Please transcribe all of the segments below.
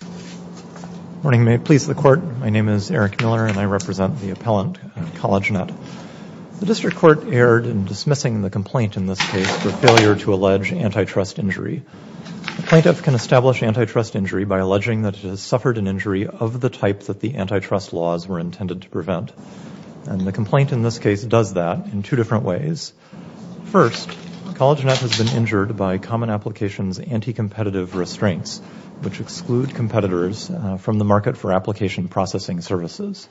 Good morning. May it please the Court, my name is Eric Miller and I represent the appellant at CollegeNET. The District Court erred in dismissing the complaint in this case for failure to allege antitrust injury. A plaintiff can establish antitrust injury by alleging that it has suffered an injury of the type that the antitrust laws were intended to prevent. And the complaint in this case does that in two different ways. First, CollegeNET has been injured by Common Application's anti-competitive restraints, which exclude competitors from the market for application processing services.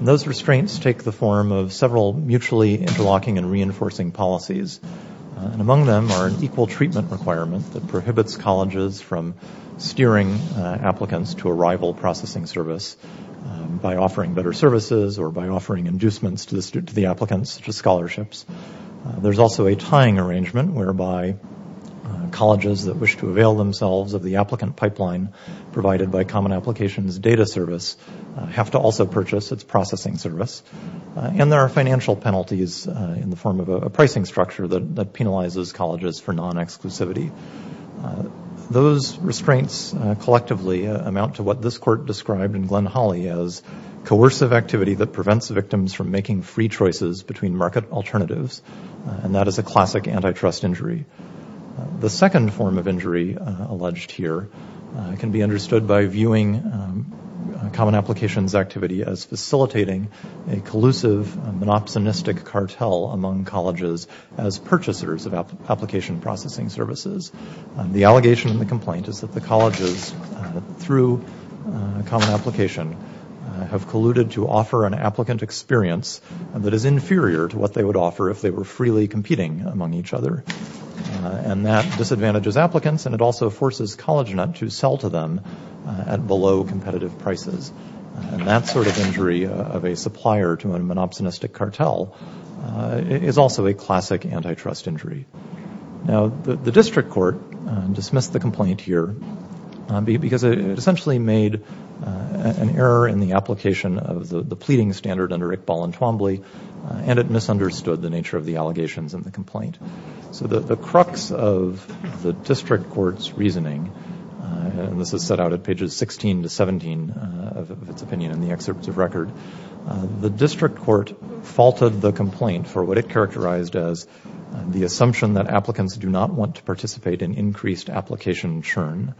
Those restraints take the form of several mutually interlocking and reinforcing policies. Among them are an equal treatment requirement that prohibits colleges from steering applicants to a rival processing service by offering better services or by offering inducements to the applicants, such as scholarships. There's also a tying arrangement whereby colleges that wish to avail themselves of the applicant pipeline provided by Common Application's data service have to also purchase its processing service. And there are financial penalties in the form of a pricing structure that penalizes colleges for non-exclusivity. Those restraints collectively amount to what this court described in Glenn-Hawley as coercive activity that prevents victims from making free choices between market alternatives, and that is a classic antitrust injury. The second form of injury alleged here can be understood by viewing Common Application's activity as facilitating a collusive, monopsonistic cartel among colleges as purchasers of application processing services. The allegation in the complaint is that the colleges, through Common Application, have colluded to offer an applicant experience that is inferior to what they would offer if they were freely competing among each other. And that disadvantages applicants, and it also forces CollegeNET to sell to them at below competitive prices. And that sort of injury of a supplier to a monopsonistic cartel is also a classic antitrust injury. Now, the district court dismissed the complaint here because it essentially made an error in the application of the pleading standard under Iqbal and Twombly, and it misunderstood the nature of the allegations in the complaint. So the crux of the district court's reasoning, and this is set out at pages 16 to 17 of its opinion in the excerpt of record, the district court faulted the complaint for what it characterized as the assumption that applicants do not want to participate in increased application churn.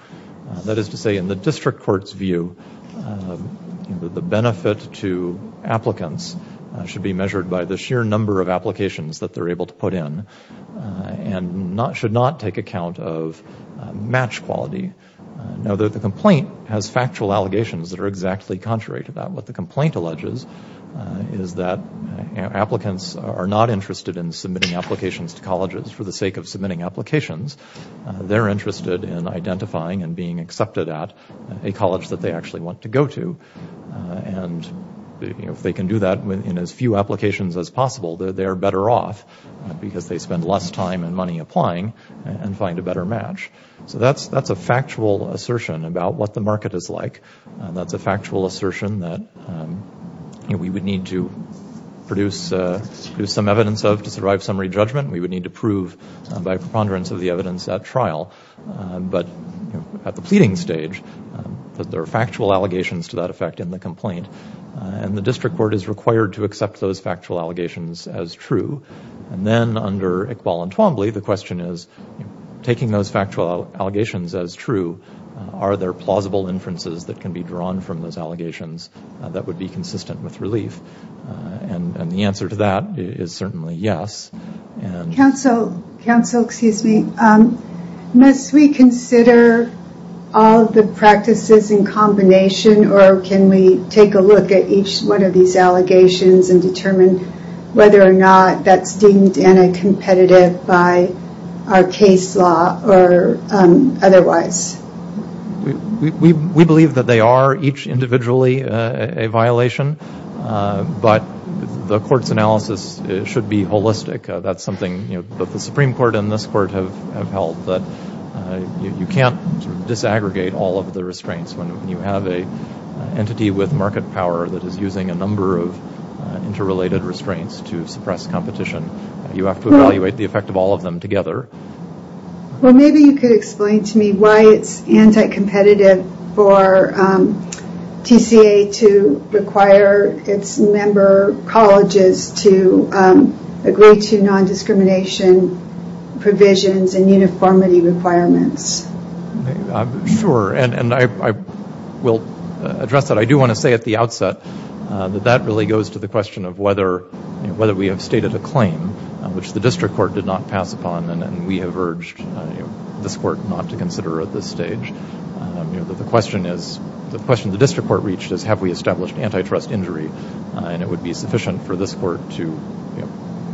That is to say, in the district court's view, the benefit to applicants should be measured by the sheer number of applications that they're able to put in and should not take account of match quality. Now, the complaint has factual allegations that are exactly contrary to that. What the complaint alleges is that applicants are not interested in submitting applications to colleges for the sake of submitting applications. They're interested in identifying and being accepted at a college that they actually want to go to. And if they can do that in as few applications as possible, they're better off because they spend less time and money applying and find a better match. So that's a factual assertion about what the market is like. That's a factual assertion that we would need to produce some evidence of to survive summary judgment. We would need to prove by preponderance of the evidence at trial. But at the pleading stage, there are factual allegations to that effect in the complaint. And the district court is required to accept those factual allegations as true. And then under Iqbal and Twombly, the question is, taking those factual allegations as true, are there plausible inferences that can be drawn from those allegations that would be consistent with relief? And the answer to that is certainly yes. Counsel, excuse me. Must we consider all the practices in combination, or can we take a look at each one of these allegations and determine whether or not that's deemed anti-competitive by our case law or otherwise? We believe that they are each individually a violation. But the court's analysis should be holistic. That's something that the Supreme Court and this court have held, that you can't disaggregate all of the restraints when you have an entity with market power that is using a number of interrelated restraints to suppress competition. You have to evaluate the effect of all of them together. Well, maybe you could explain to me why it's anti-competitive for TCA to require its member colleges to agree to non-discrimination provisions and uniformity requirements. Sure, and I will address that. I do want to say at the outset that that really goes to the question of whether we have stated a claim, which the district court did not pass upon and we have urged this court not to consider at this stage. The question the district court reached is have we established antitrust injury, and it would be sufficient for this court to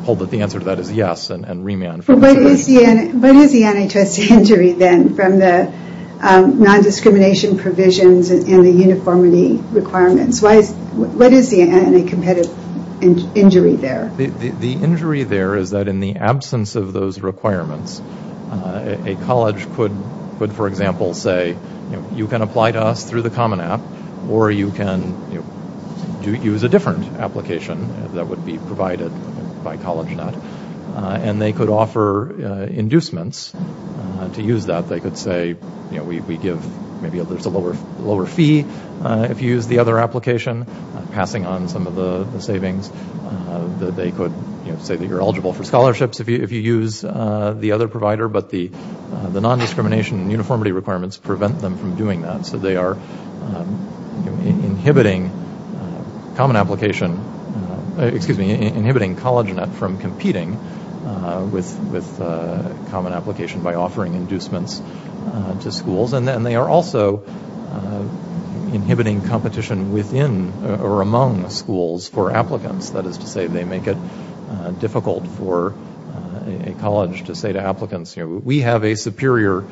hold that the answer to that is yes and remand. What is the antitrust injury then from the non-discrimination provisions and the uniformity requirements? What is the anti-competitive injury there? The injury there is that in the absence of those requirements, a college could, for example, say you can apply to us through the Common App or you can use a different application that would be provided by CollegeNet, and they could offer inducements to use that. They could say we give maybe a lower fee if you use the other application, passing on some of the savings. They could say that you're eligible for scholarships if you use the other provider, but the non-discrimination and uniformity requirements prevent them from doing that. So they are inhibiting CollegeNet from competing with Common Application by offering inducements to schools, and they are also inhibiting competition within or among schools for applicants. That is to say they make it difficult for a college to say to applicants, we have a superior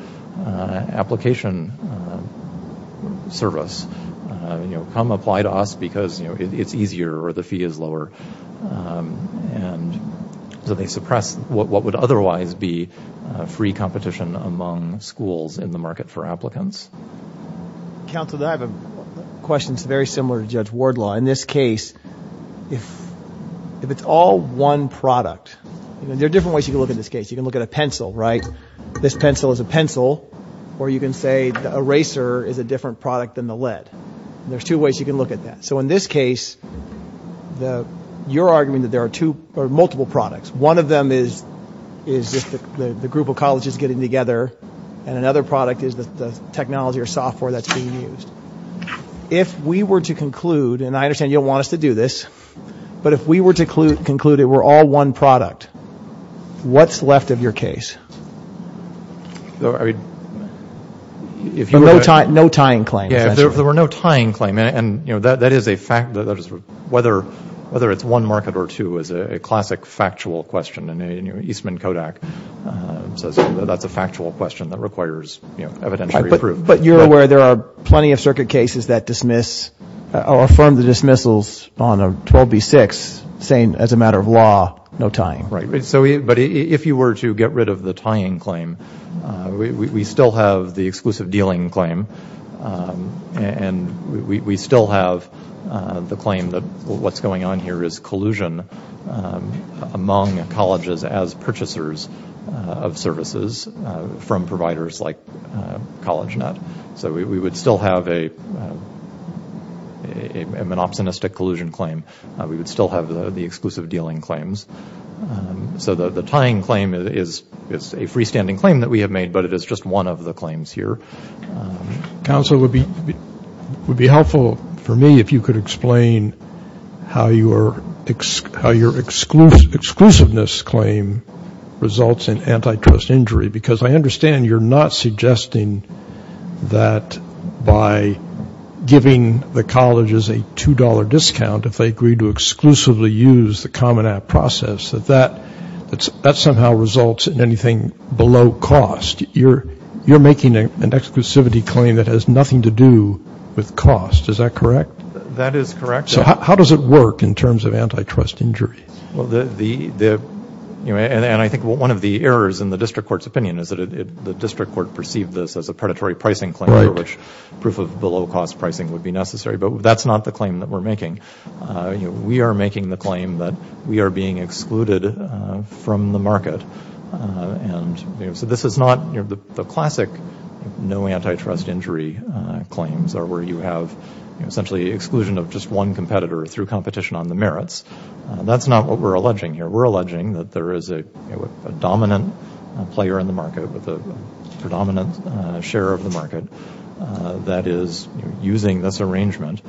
application service. Come apply to us because it's easier or the fee is lower. So they suppress what would otherwise be free competition among schools in the market for applicants. Counsel, I have a question that's very similar to Judge Wardlaw. In this case, if it's all one product, there are different ways you can look at this case. You can look at a pencil, right? This pencil is a pencil, or you can say the eraser is a different product than the lead. There are two ways you can look at that. So in this case, you're arguing that there are multiple products. One of them is just the group of colleges getting together, and another product is the technology or software that's being used. If we were to conclude, and I understand you don't want us to do this, but if we were to conclude it were all one product, what's left of your case? No tying claim. Yeah, if there were no tying claim, and that is a fact. Whether it's one market or two is a classic factual question, and Eastman Kodak says that's a factual question that requires evidentiary proof. But you're aware there are plenty of circuit cases that dismiss or affirm the dismissals on 12B6 saying as a matter of law, no tying. Right. But if you were to get rid of the tying claim, we still have the exclusive dealing claim, and we still have the claim that what's going on here is collusion among colleges as purchasers of services from providers like CollegeNet. So we would still have a monopsonistic collusion claim. We would still have the exclusive dealing claims. So the tying claim is a freestanding claim that we have made, but it is just one of the claims here. Counsel, it would be helpful for me if you could explain how your exclusiveness claim results in antitrust injury, because I understand you're not suggesting that by giving the colleges a $2 discount if they agree to exclusively use the Common App process, that that somehow results in anything below cost. You're making an exclusivity claim that has nothing to do with cost. Is that correct? That is correct. So how does it work in terms of antitrust injury? And I think one of the errors in the district court's opinion is that the district court perceived this as a predatory pricing claim for which proof of below cost pricing would be necessary. But that's not the claim that we're making. We are making the claim that we are being excluded from the market. And so this is not the classic no antitrust injury claims or where you have essentially exclusion of just one competitor through competition on the merits. That's not what we're alleging here. We're alleging that there is a dominant player in the market with a predominant share of the market that is using this arrangement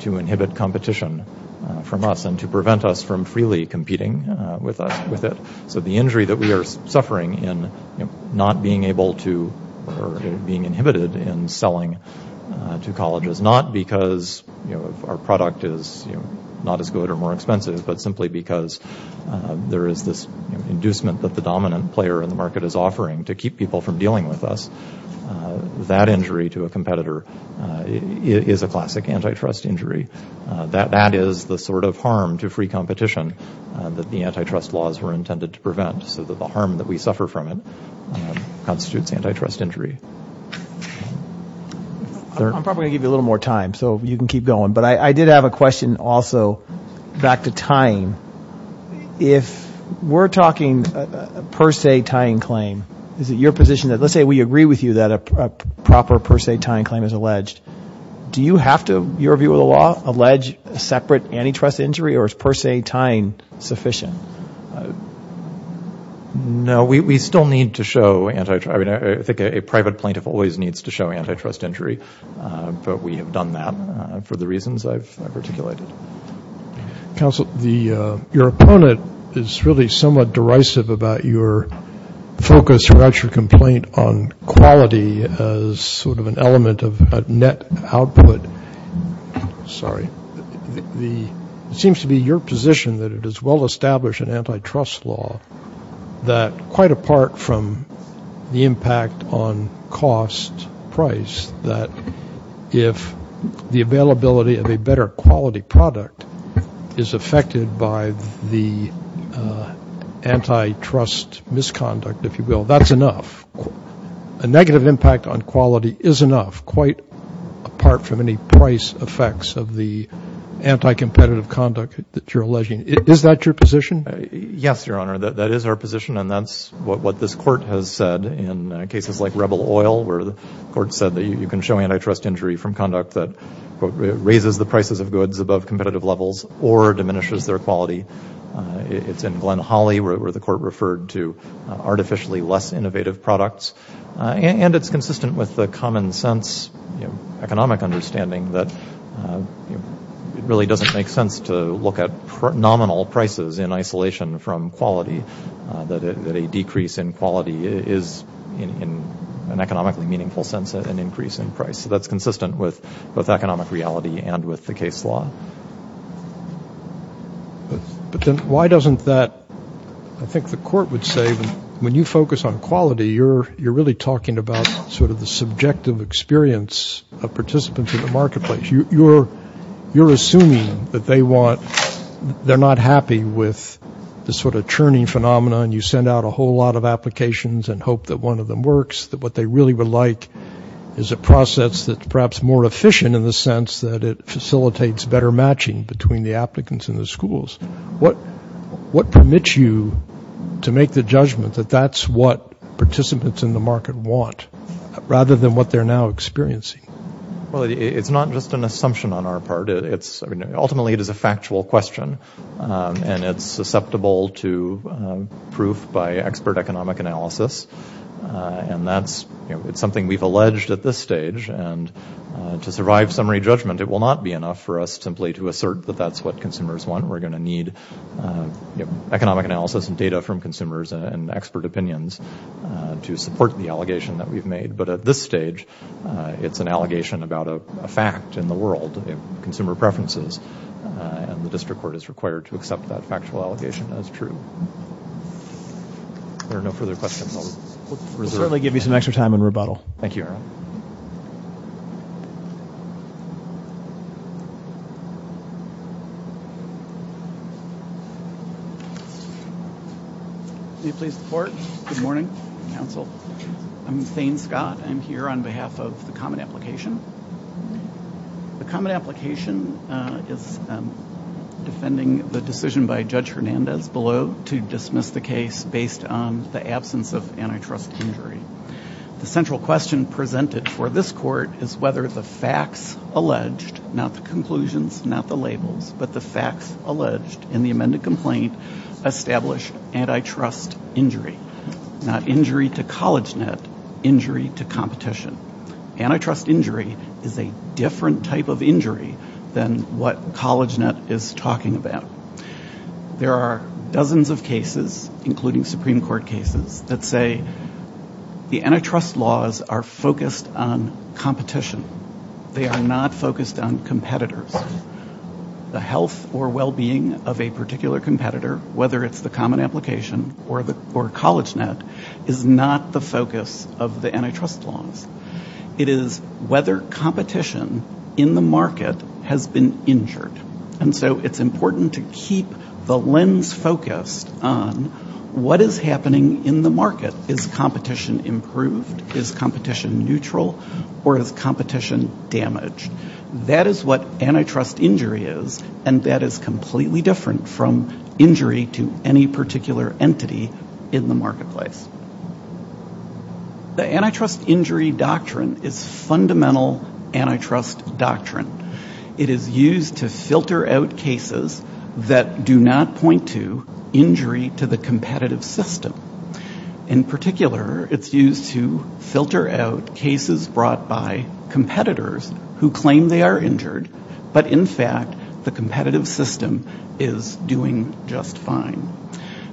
to inhibit competition from us and to prevent us from freely competing with it. So the injury that we are suffering in not being able to or being inhibited in selling to colleges, not because our product is not as good or more expensive, but simply because there is this inducement that the dominant player in the market is offering to keep people from dealing with us, that injury to a competitor is a classic antitrust injury. That is the sort of harm to free competition that the antitrust laws were intended to prevent so that the harm that we suffer from it constitutes antitrust injury. I'm probably going to give you a little more time so you can keep going. But I did have a question also back to tying. If we're talking a per se tying claim, is it your position that let's say we agree with you that a proper per se tying claim is alleged, do you have to, in your view of the law, allege a separate antitrust injury or is per se tying sufficient? No, we still need to show antitrust. I mean, I think a private plaintiff always needs to show antitrust injury, but we have done that for the reasons I've articulated. Counsel, your opponent is really somewhat derisive about your focus, your actual complaint on quality as sort of an element of net output. Sorry. It seems to be your position that it is well-established in antitrust law that, quite apart from the impact on cost price, that if the availability of a better quality product is affected by the antitrust misconduct, if you will, that's enough. A negative impact on quality is enough, quite apart from any price effects of the anticompetitive conduct that you're alleging. Is that your position? Yes, Your Honor. That is our position, and that's what this court has said in cases like Rebel Oil, where the court said that you can show antitrust injury from conduct that, quote, raises the prices of goods above competitive levels or diminishes their quality. It's in Glen Holly, where the court referred to artificially less innovative products, and it's consistent with the common sense economic understanding that it really doesn't make sense to look at nominal prices in isolation from quality, that a decrease in quality is, in an economically meaningful sense, an increase in price. So that's consistent with both economic reality and with the case law. But then why doesn't that, I think the court would say, when you focus on quality, you're really talking about sort of the subjective experience of participants in the marketplace. You're assuming that they're not happy with the sort of churning phenomenon. You send out a whole lot of applications and hope that one of them works, that what they really would like is a process that's perhaps more efficient in the sense that it facilitates better matching between the applicants and the schools. What permits you to make the judgment that that's what participants in the market want, rather than what they're now experiencing? Well, it's not just an assumption on our part. Ultimately, it is a factual question, and it's susceptible to proof by expert economic analysis, and that's something we've alleged at this stage. And to survive summary judgment, it will not be enough for us simply to assert that that's what consumers want. We're going to need economic analysis and data from consumers and expert opinions to support the allegation that we've made. But at this stage, it's an allegation about a fact in the world, consumer preferences, and the district court is required to accept that factual allegation as true. There are no further questions. We'll certainly give you some extra time in rebuttal. Thank you, Aaron. Can you please report? Good morning, counsel. I'm Thane Scott. I'm here on behalf of the Common Application. The Common Application is defending the decision by Judge Hernandez below to dismiss the case based on the absence of antitrust injury. The central question presented for this court is whether the facts alleged, not the conclusions, not the labels, but the facts alleged in the amended complaint establish antitrust injury, not injury to college net, injury to competition. Antitrust injury is a different type of injury than what college net is talking about. There are dozens of cases, including Supreme Court cases, that say the antitrust laws are focused on competition. They are not focused on competitors. The health or well-being of a particular competitor, whether it's the Common Application or college net, is not the focus of the antitrust laws. It is whether competition in the market has been injured. And so it's important to keep the lens focused on what is happening in the market. Is competition improved? Is competition neutral? Or is competition damaged? That is what antitrust injury is, and that is completely different from injury to any particular entity in the marketplace. The antitrust injury doctrine is fundamental antitrust doctrine. It is used to filter out cases that do not point to injury to the competitive system. In particular, it's used to filter out cases brought by competitors who claim they are injured, but, in fact, the competitive system is doing just fine.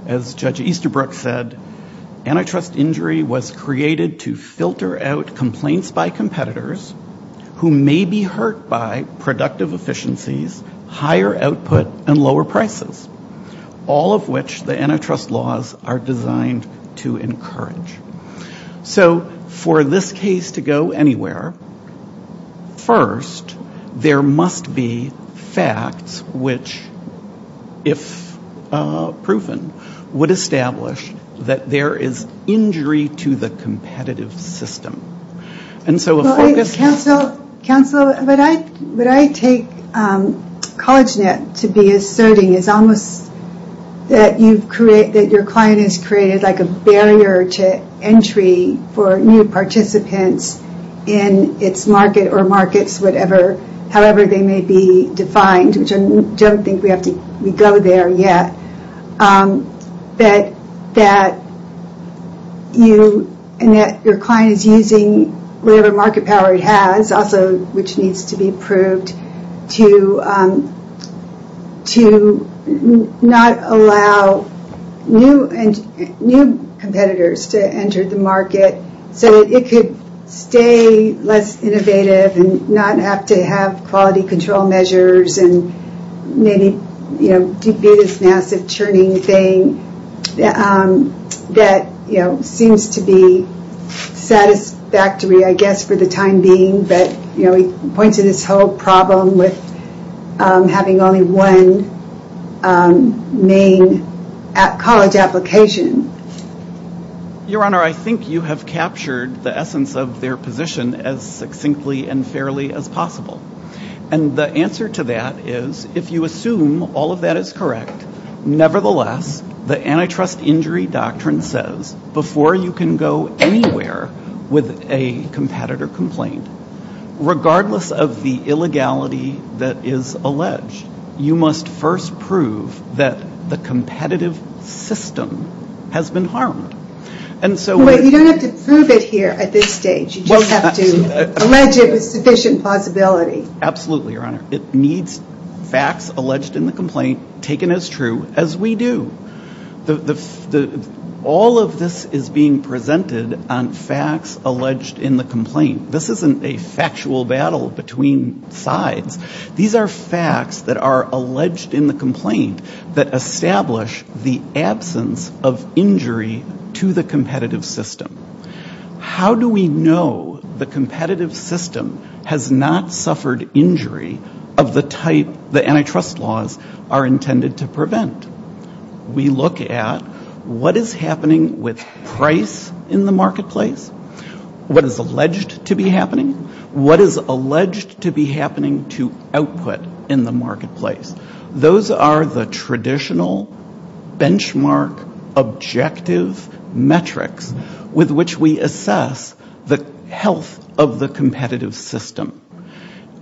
As Judge Easterbrook said, antitrust injury was created to filter out complaints by competitors who may be hurt by productive efficiencies, higher output, and lower prices, all of which the antitrust laws are designed to encourage. So for this case to go anywhere, first there must be facts which, if proven, would establish that there is injury to the competitive system. And so a focus... Counselor, what I take CollegeNet to be asserting is almost that your client has created like a barrier to entry for new participants in its market, or markets, however they may be defined, which I don't think we go there yet, that your client is using whatever market power it has, also which needs to be proved, to not allow new competitors to enter the market so that it could stay less innovative and not have to have quality control measures and maybe be this massive churned out, overdoing thing that seems to be satisfactory, I guess, for the time being, but points to this whole problem with having only one main college application. Your Honor, I think you have captured the essence of their position as succinctly and fairly as possible. And the answer to that is, if you assume all of that is correct, nevertheless, the antitrust injury doctrine says, before you can go anywhere with a competitor complaint, regardless of the illegality that is alleged, you must first prove that the competitive system has been harmed. And so... Absolutely, Your Honor. It needs facts alleged in the complaint taken as true as we do. All of this is being presented on facts alleged in the complaint. This isn't a factual battle between sides. These are facts that are alleged in the complaint that establish the absence of injury to the competitive system. How do we know the competitive system has not suffered injury of the type the antitrust laws are intended to prevent? We look at what is happening with price in the marketplace, what is alleged to be happening, what is alleged to be happening to output in the marketplace. Those are the traditional benchmark objective metrics with which we assess the health of the competitive system.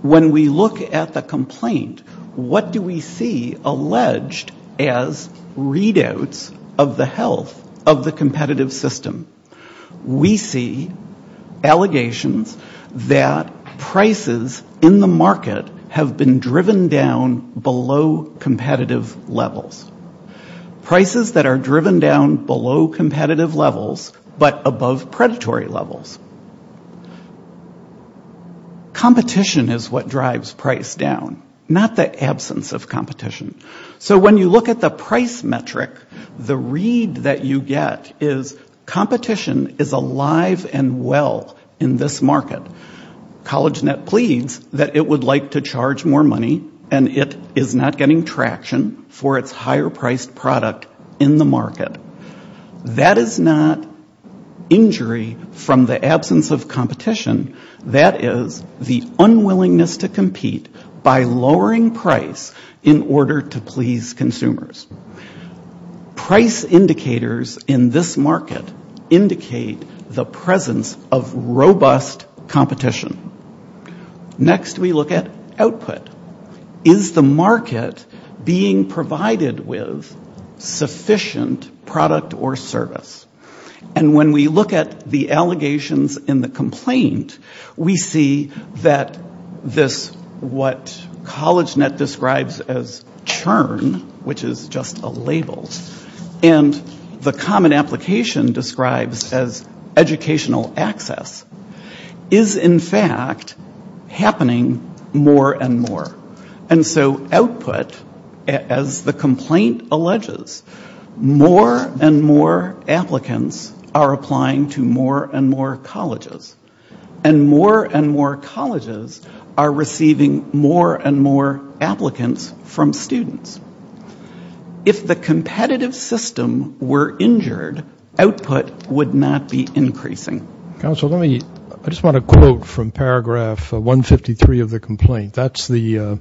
When we look at the complaint, what do we see alleged as readouts of the health of the competitive system? We see allegations that prices in the market have been driven down by the competitive system. Prices that are driven down below competitive levels, but above predatory levels. Competition is what drives price down, not the absence of competition. So when you look at the price metric, the read that you get is competition is alive and well in this market. CollegeNet pleads that it would like to charge more money and it is not getting traction for its higher priced product in the market. That is not injury from the absence of competition. That is the unwillingness to compete by lowering price in order to please consumers. Price indicators in this market indicate the presence of robust competition. Next we look at output. Is the market being provided with sufficient product or service? And when we look at the allegations in the complaint, we see that this what CollegeNet describes as churn, which is just a label, and the common application describes as educational access. Is in fact happening more and more. And so output, as the complaint alleges, more and more applicants are applying to more and more colleges. And more and more colleges are receiving more and more applicants from students. If the competitive system were injured, output would not be increasing. I just want to quote from paragraph 153 of the complaint. That's the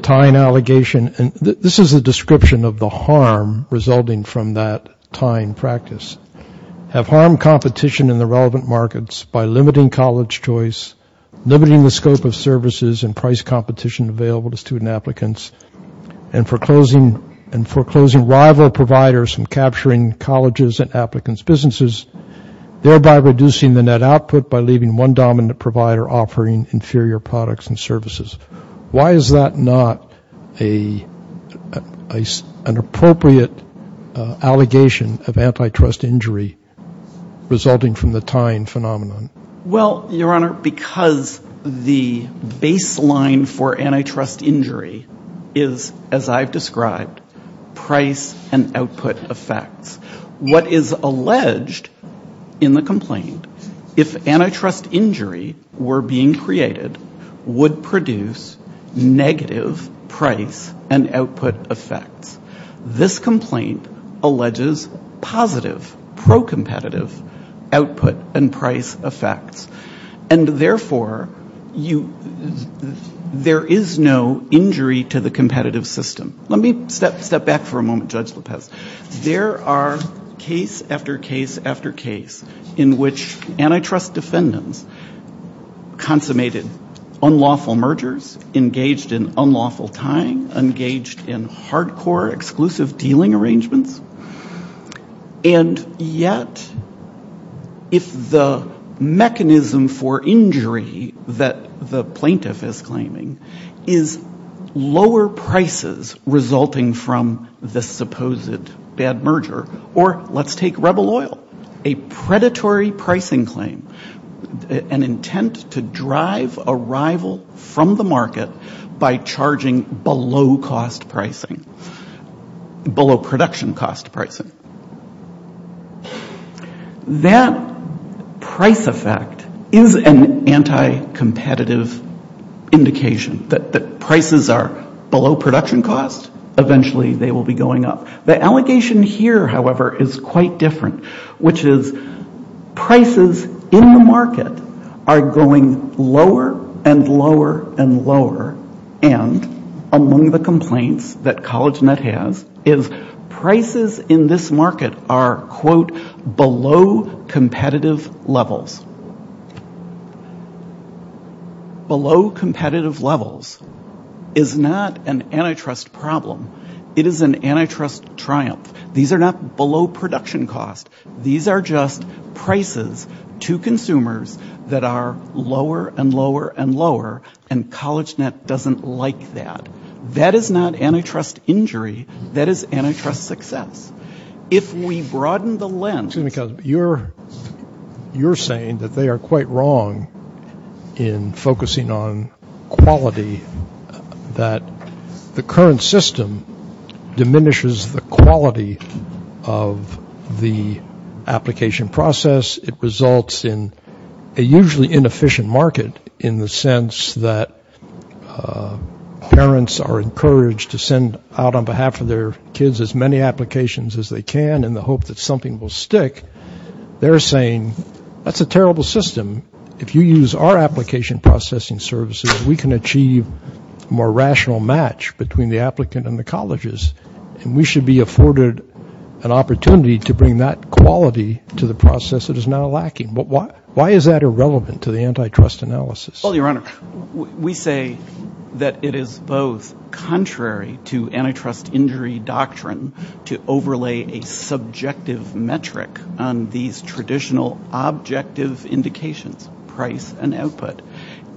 tying allegation, and this is a description of the harm resulting from that tying practice. Have harmed competition in the relevant markets by limiting college choice, limiting the scope of services and price competition available to student applicants, and foreclosing rival providers from capturing colleges and applicants' businesses, thereby reducing the net output by leaving one dominant provider offering inferior products and services. Why is that not an appropriate allegation of antitrust injury resulting from the tying phenomenon? Well, Your Honor, because the baseline for antitrust injury is, as I've described, price and output effects. What is alleged in the complaint, if antitrust injury were being created, would produce negative price and output effects. This complaint alleges positive pro-competitive output and price effects. And therefore, there is no injury to the competitive system. Let me step back for a moment, Judge Lopez. There are case after case after case in which antitrust defendants consummated unlawful mergers, engaged in unlawful tying, engaged in hardcore exclusive dealing arrangements. And yet, if the mechanism for injury that the plaintiff is claiming is lower prices, resulting from this supposed bad merger, or let's take Rebel Oil, a predatory pricing claim, an intent to drive a rival from the market by charging below cost pricing, below production cost pricing. That price effect is an anti-competitive indication that prices are below production costs, eventually they will be going up. The allegation here, however, is quite different, which is prices in the market are going lower and lower and lower, and among the complaints that CollegeNet has is prices in this market are, quote, below competitive levels. Below competitive levels is not an antitrust problem. It is an antitrust triumph. These are not below production costs. These are just prices to consumers that are lower and lower and lower, and CollegeNet doesn't like that. That is not antitrust injury. That is antitrust success. If we broaden the lens... Dr. Ken Jones... You're saying that they are quite wrong in focusing on quality, that the current system diminishes the quality of the application process. It results in a usually inefficient market in the sense that parents are encouraged to send out on behalf of their children as many applications as they can in the hope that something will stick. They're saying, that's a terrible system. If you use our application processing services, we can achieve a more rational match between the applicant and the colleges, and we should be afforded an opportunity to bring that quality to the process that is now lacking. Why is that irrelevant to the antitrust analysis? Well, your Honor, we say that it is both contrary to antitrust injury doctrine to overlay a subjective metric on these traditional objective indications, price and output.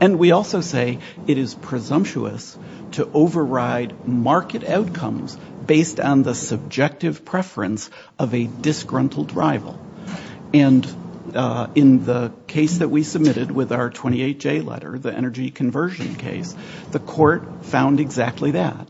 And we also say it is presumptuous to override market outcomes based on the subjective preference of a disgruntled rival. And in the case that we submitted with our 28J letter, the energy conversion case, the court found exactly that.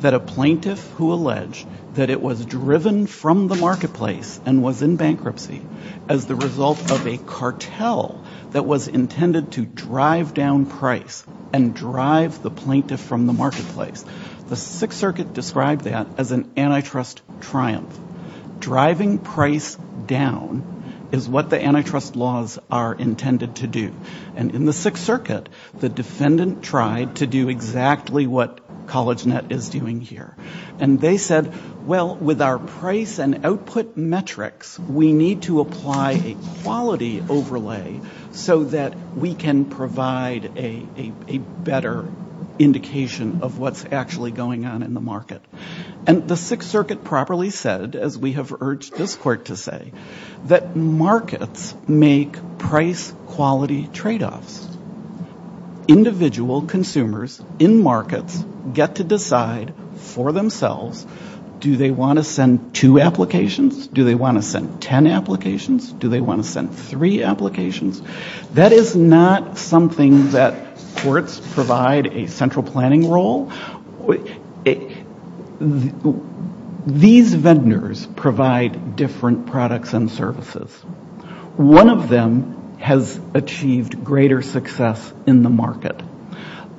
That a plaintiff who alleged that it was driven from the marketplace and was in bankruptcy as the result of a cartel that was intended to drive down price and drive the plaintiff from the marketplace. The Sixth Circuit described that as an antitrust triumph. Driving price down is what the antitrust laws are intended to do. And in the Sixth Circuit, the defendant tried to do exactly what CollegeNet is doing here. And they said, well, with our price and output metrics, we need to apply a quality overlay so that we can provide a better indication of what's actually going on in the market. And the Sixth Circuit properly said, as we have urged this court to say, that markets make price quality tradeoffs. Individual consumers in markets get to decide for themselves, do they want to send two applications? Do they want to send 10 applications? Do they want to send three applications? That is not something that courts provide a central planning role. These vendors provide different products and services. One of them has achieved greater success in the market.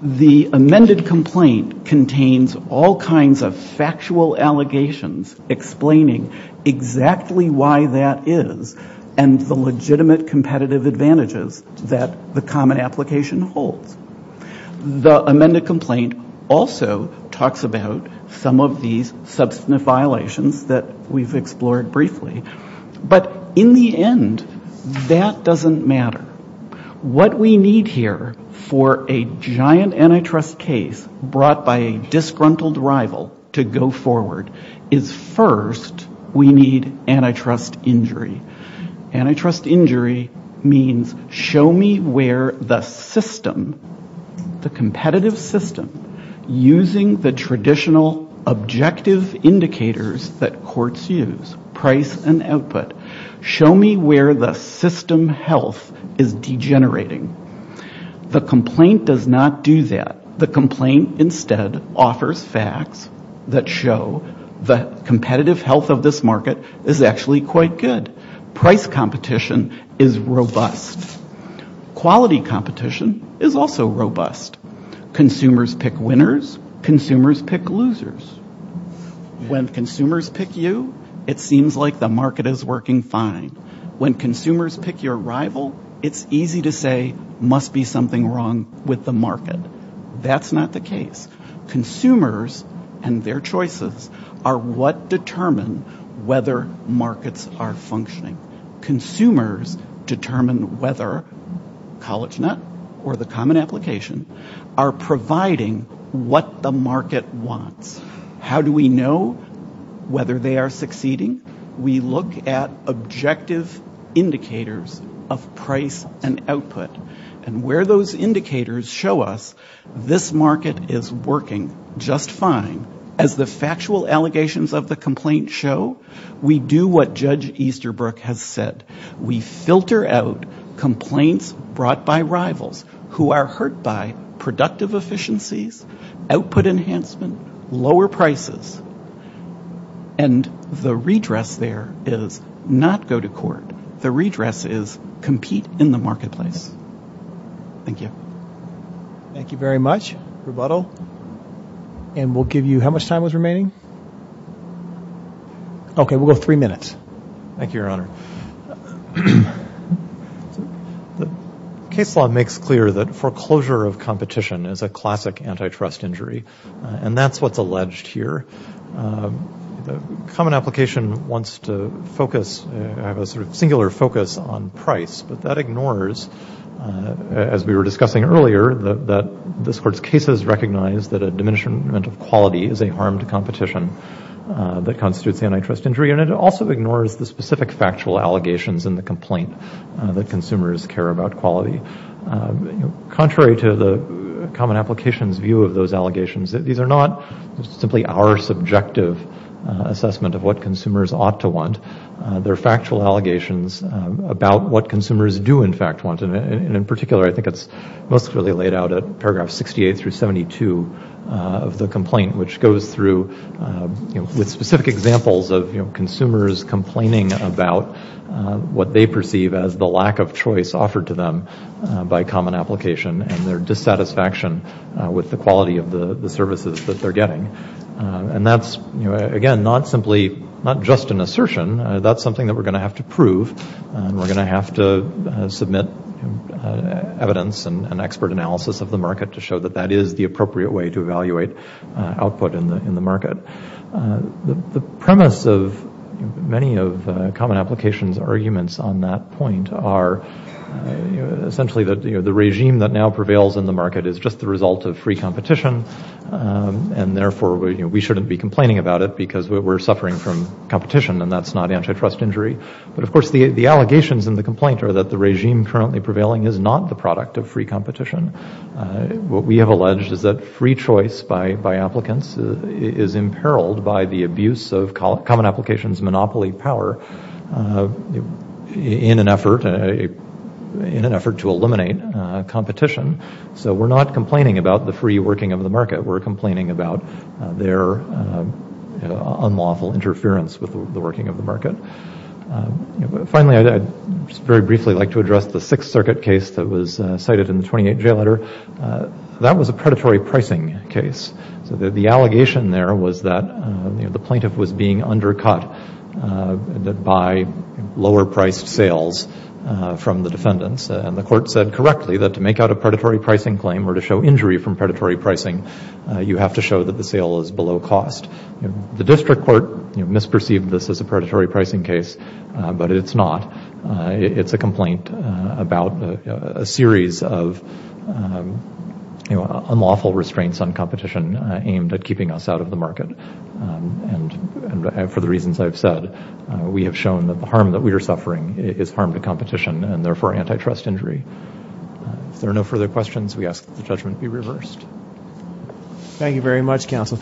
The amended complaint contains all kinds of factual allegations explaining exactly why that is and the legitimate competitive advantages that the common application holds. The amended complaint also talks about some of these substantive violations that we've explored briefly. But in the end, that doesn't matter. What we need here for a giant antitrust case brought by a disgruntled rival to go forward is first, we need antitrust injury. Antitrust injury means show me where the system, the competitive system, using the traditional objective indicators that courts use, price and output, show me where the system health is degenerating. The complaint does not do that. The complaint instead offers facts that show the competitive health of this market is actually quite good. Price competition is robust. Quality competition is also robust. Consumers pick winners, consumers pick losers. When consumers pick you, it seems like the market is working fine. That's not the case. Consumers and their choices are what determine whether markets are functioning. Consumers determine whether CollegeNet or the common application are providing what the market wants. How do we know whether they are succeeding? We look at objective indicators of price and output. And where those indicators show us this market is working just fine. As the factual allegations of the complaint show, we do what Judge Easterbrook has said. We filter out complaints brought by rivals who are hurt by productive efficiencies, output enhancement, lower prices. And the redress there is not go to court. The redress is compete in the marketplace. Thank you. Case law makes clear that foreclosure of competition is a classic antitrust injury. And that's what's alleged here. Common application wants to focus, have a singular focus on price. But that ignores, as we were discussing earlier, that this court's case has recognized that a diminishment of quality is a harm to competition that constitutes antitrust injury. And it also ignores the specific factual allegations in the complaint that consumers care about quality. Contrary to the common application's view of those allegations, these are not simply our subjective concerns. They're not subjective assessment of what consumers ought to want. They're factual allegations about what consumers do, in fact, want. And in particular, I think it's most clearly laid out at paragraph 68 through 72 of the complaint, which goes through with specific examples of consumers complaining about what they perceive as the lack of choice offered to them by common application. And their dissatisfaction with the quality of the services that they're getting. And that's, again, not simply, not just an assertion. That's something that we're going to have to prove. And we're going to have to submit evidence and expert analysis of the market to show that that is the appropriate way to evaluate output in the market. The premise of many of common application's arguments on that point are, essentially, that the regime that now prevails in the market is just the result of free competition. And, therefore, we shouldn't be complaining about it because we're suffering from competition. And that's not antitrust injury. But, of course, the allegations in the complaint are that the regime currently prevailing is not the product of free competition. What we have alleged is that free choice by applicants is imperiled by the abuse of common application's monopoly power in an effort to eliminate competition. So we're not complaining about the free working of the market. We're complaining about their unlawful interference with the working of the market. Finally, I'd just very briefly like to address the Sixth Circuit case that was cited in the 28th Jail Order. That was a predatory pricing case. So the allegation there was that the plaintiff was being undercut by lower priced sales from the defendants. And the court said correctly that to make out a predatory pricing claim or to show injury from predatory pricing, you have to show that the sale is below cost. The district court misperceived this as a predatory pricing case, but it's not. It's a complaint about a series of unlawful restraints on competition. And for the reasons I've said, we have shown that the harm that we are suffering is harm to competition and therefore antitrust injury. If there are no further questions, we ask that the judgment be reversed. Thank you very much, counsel.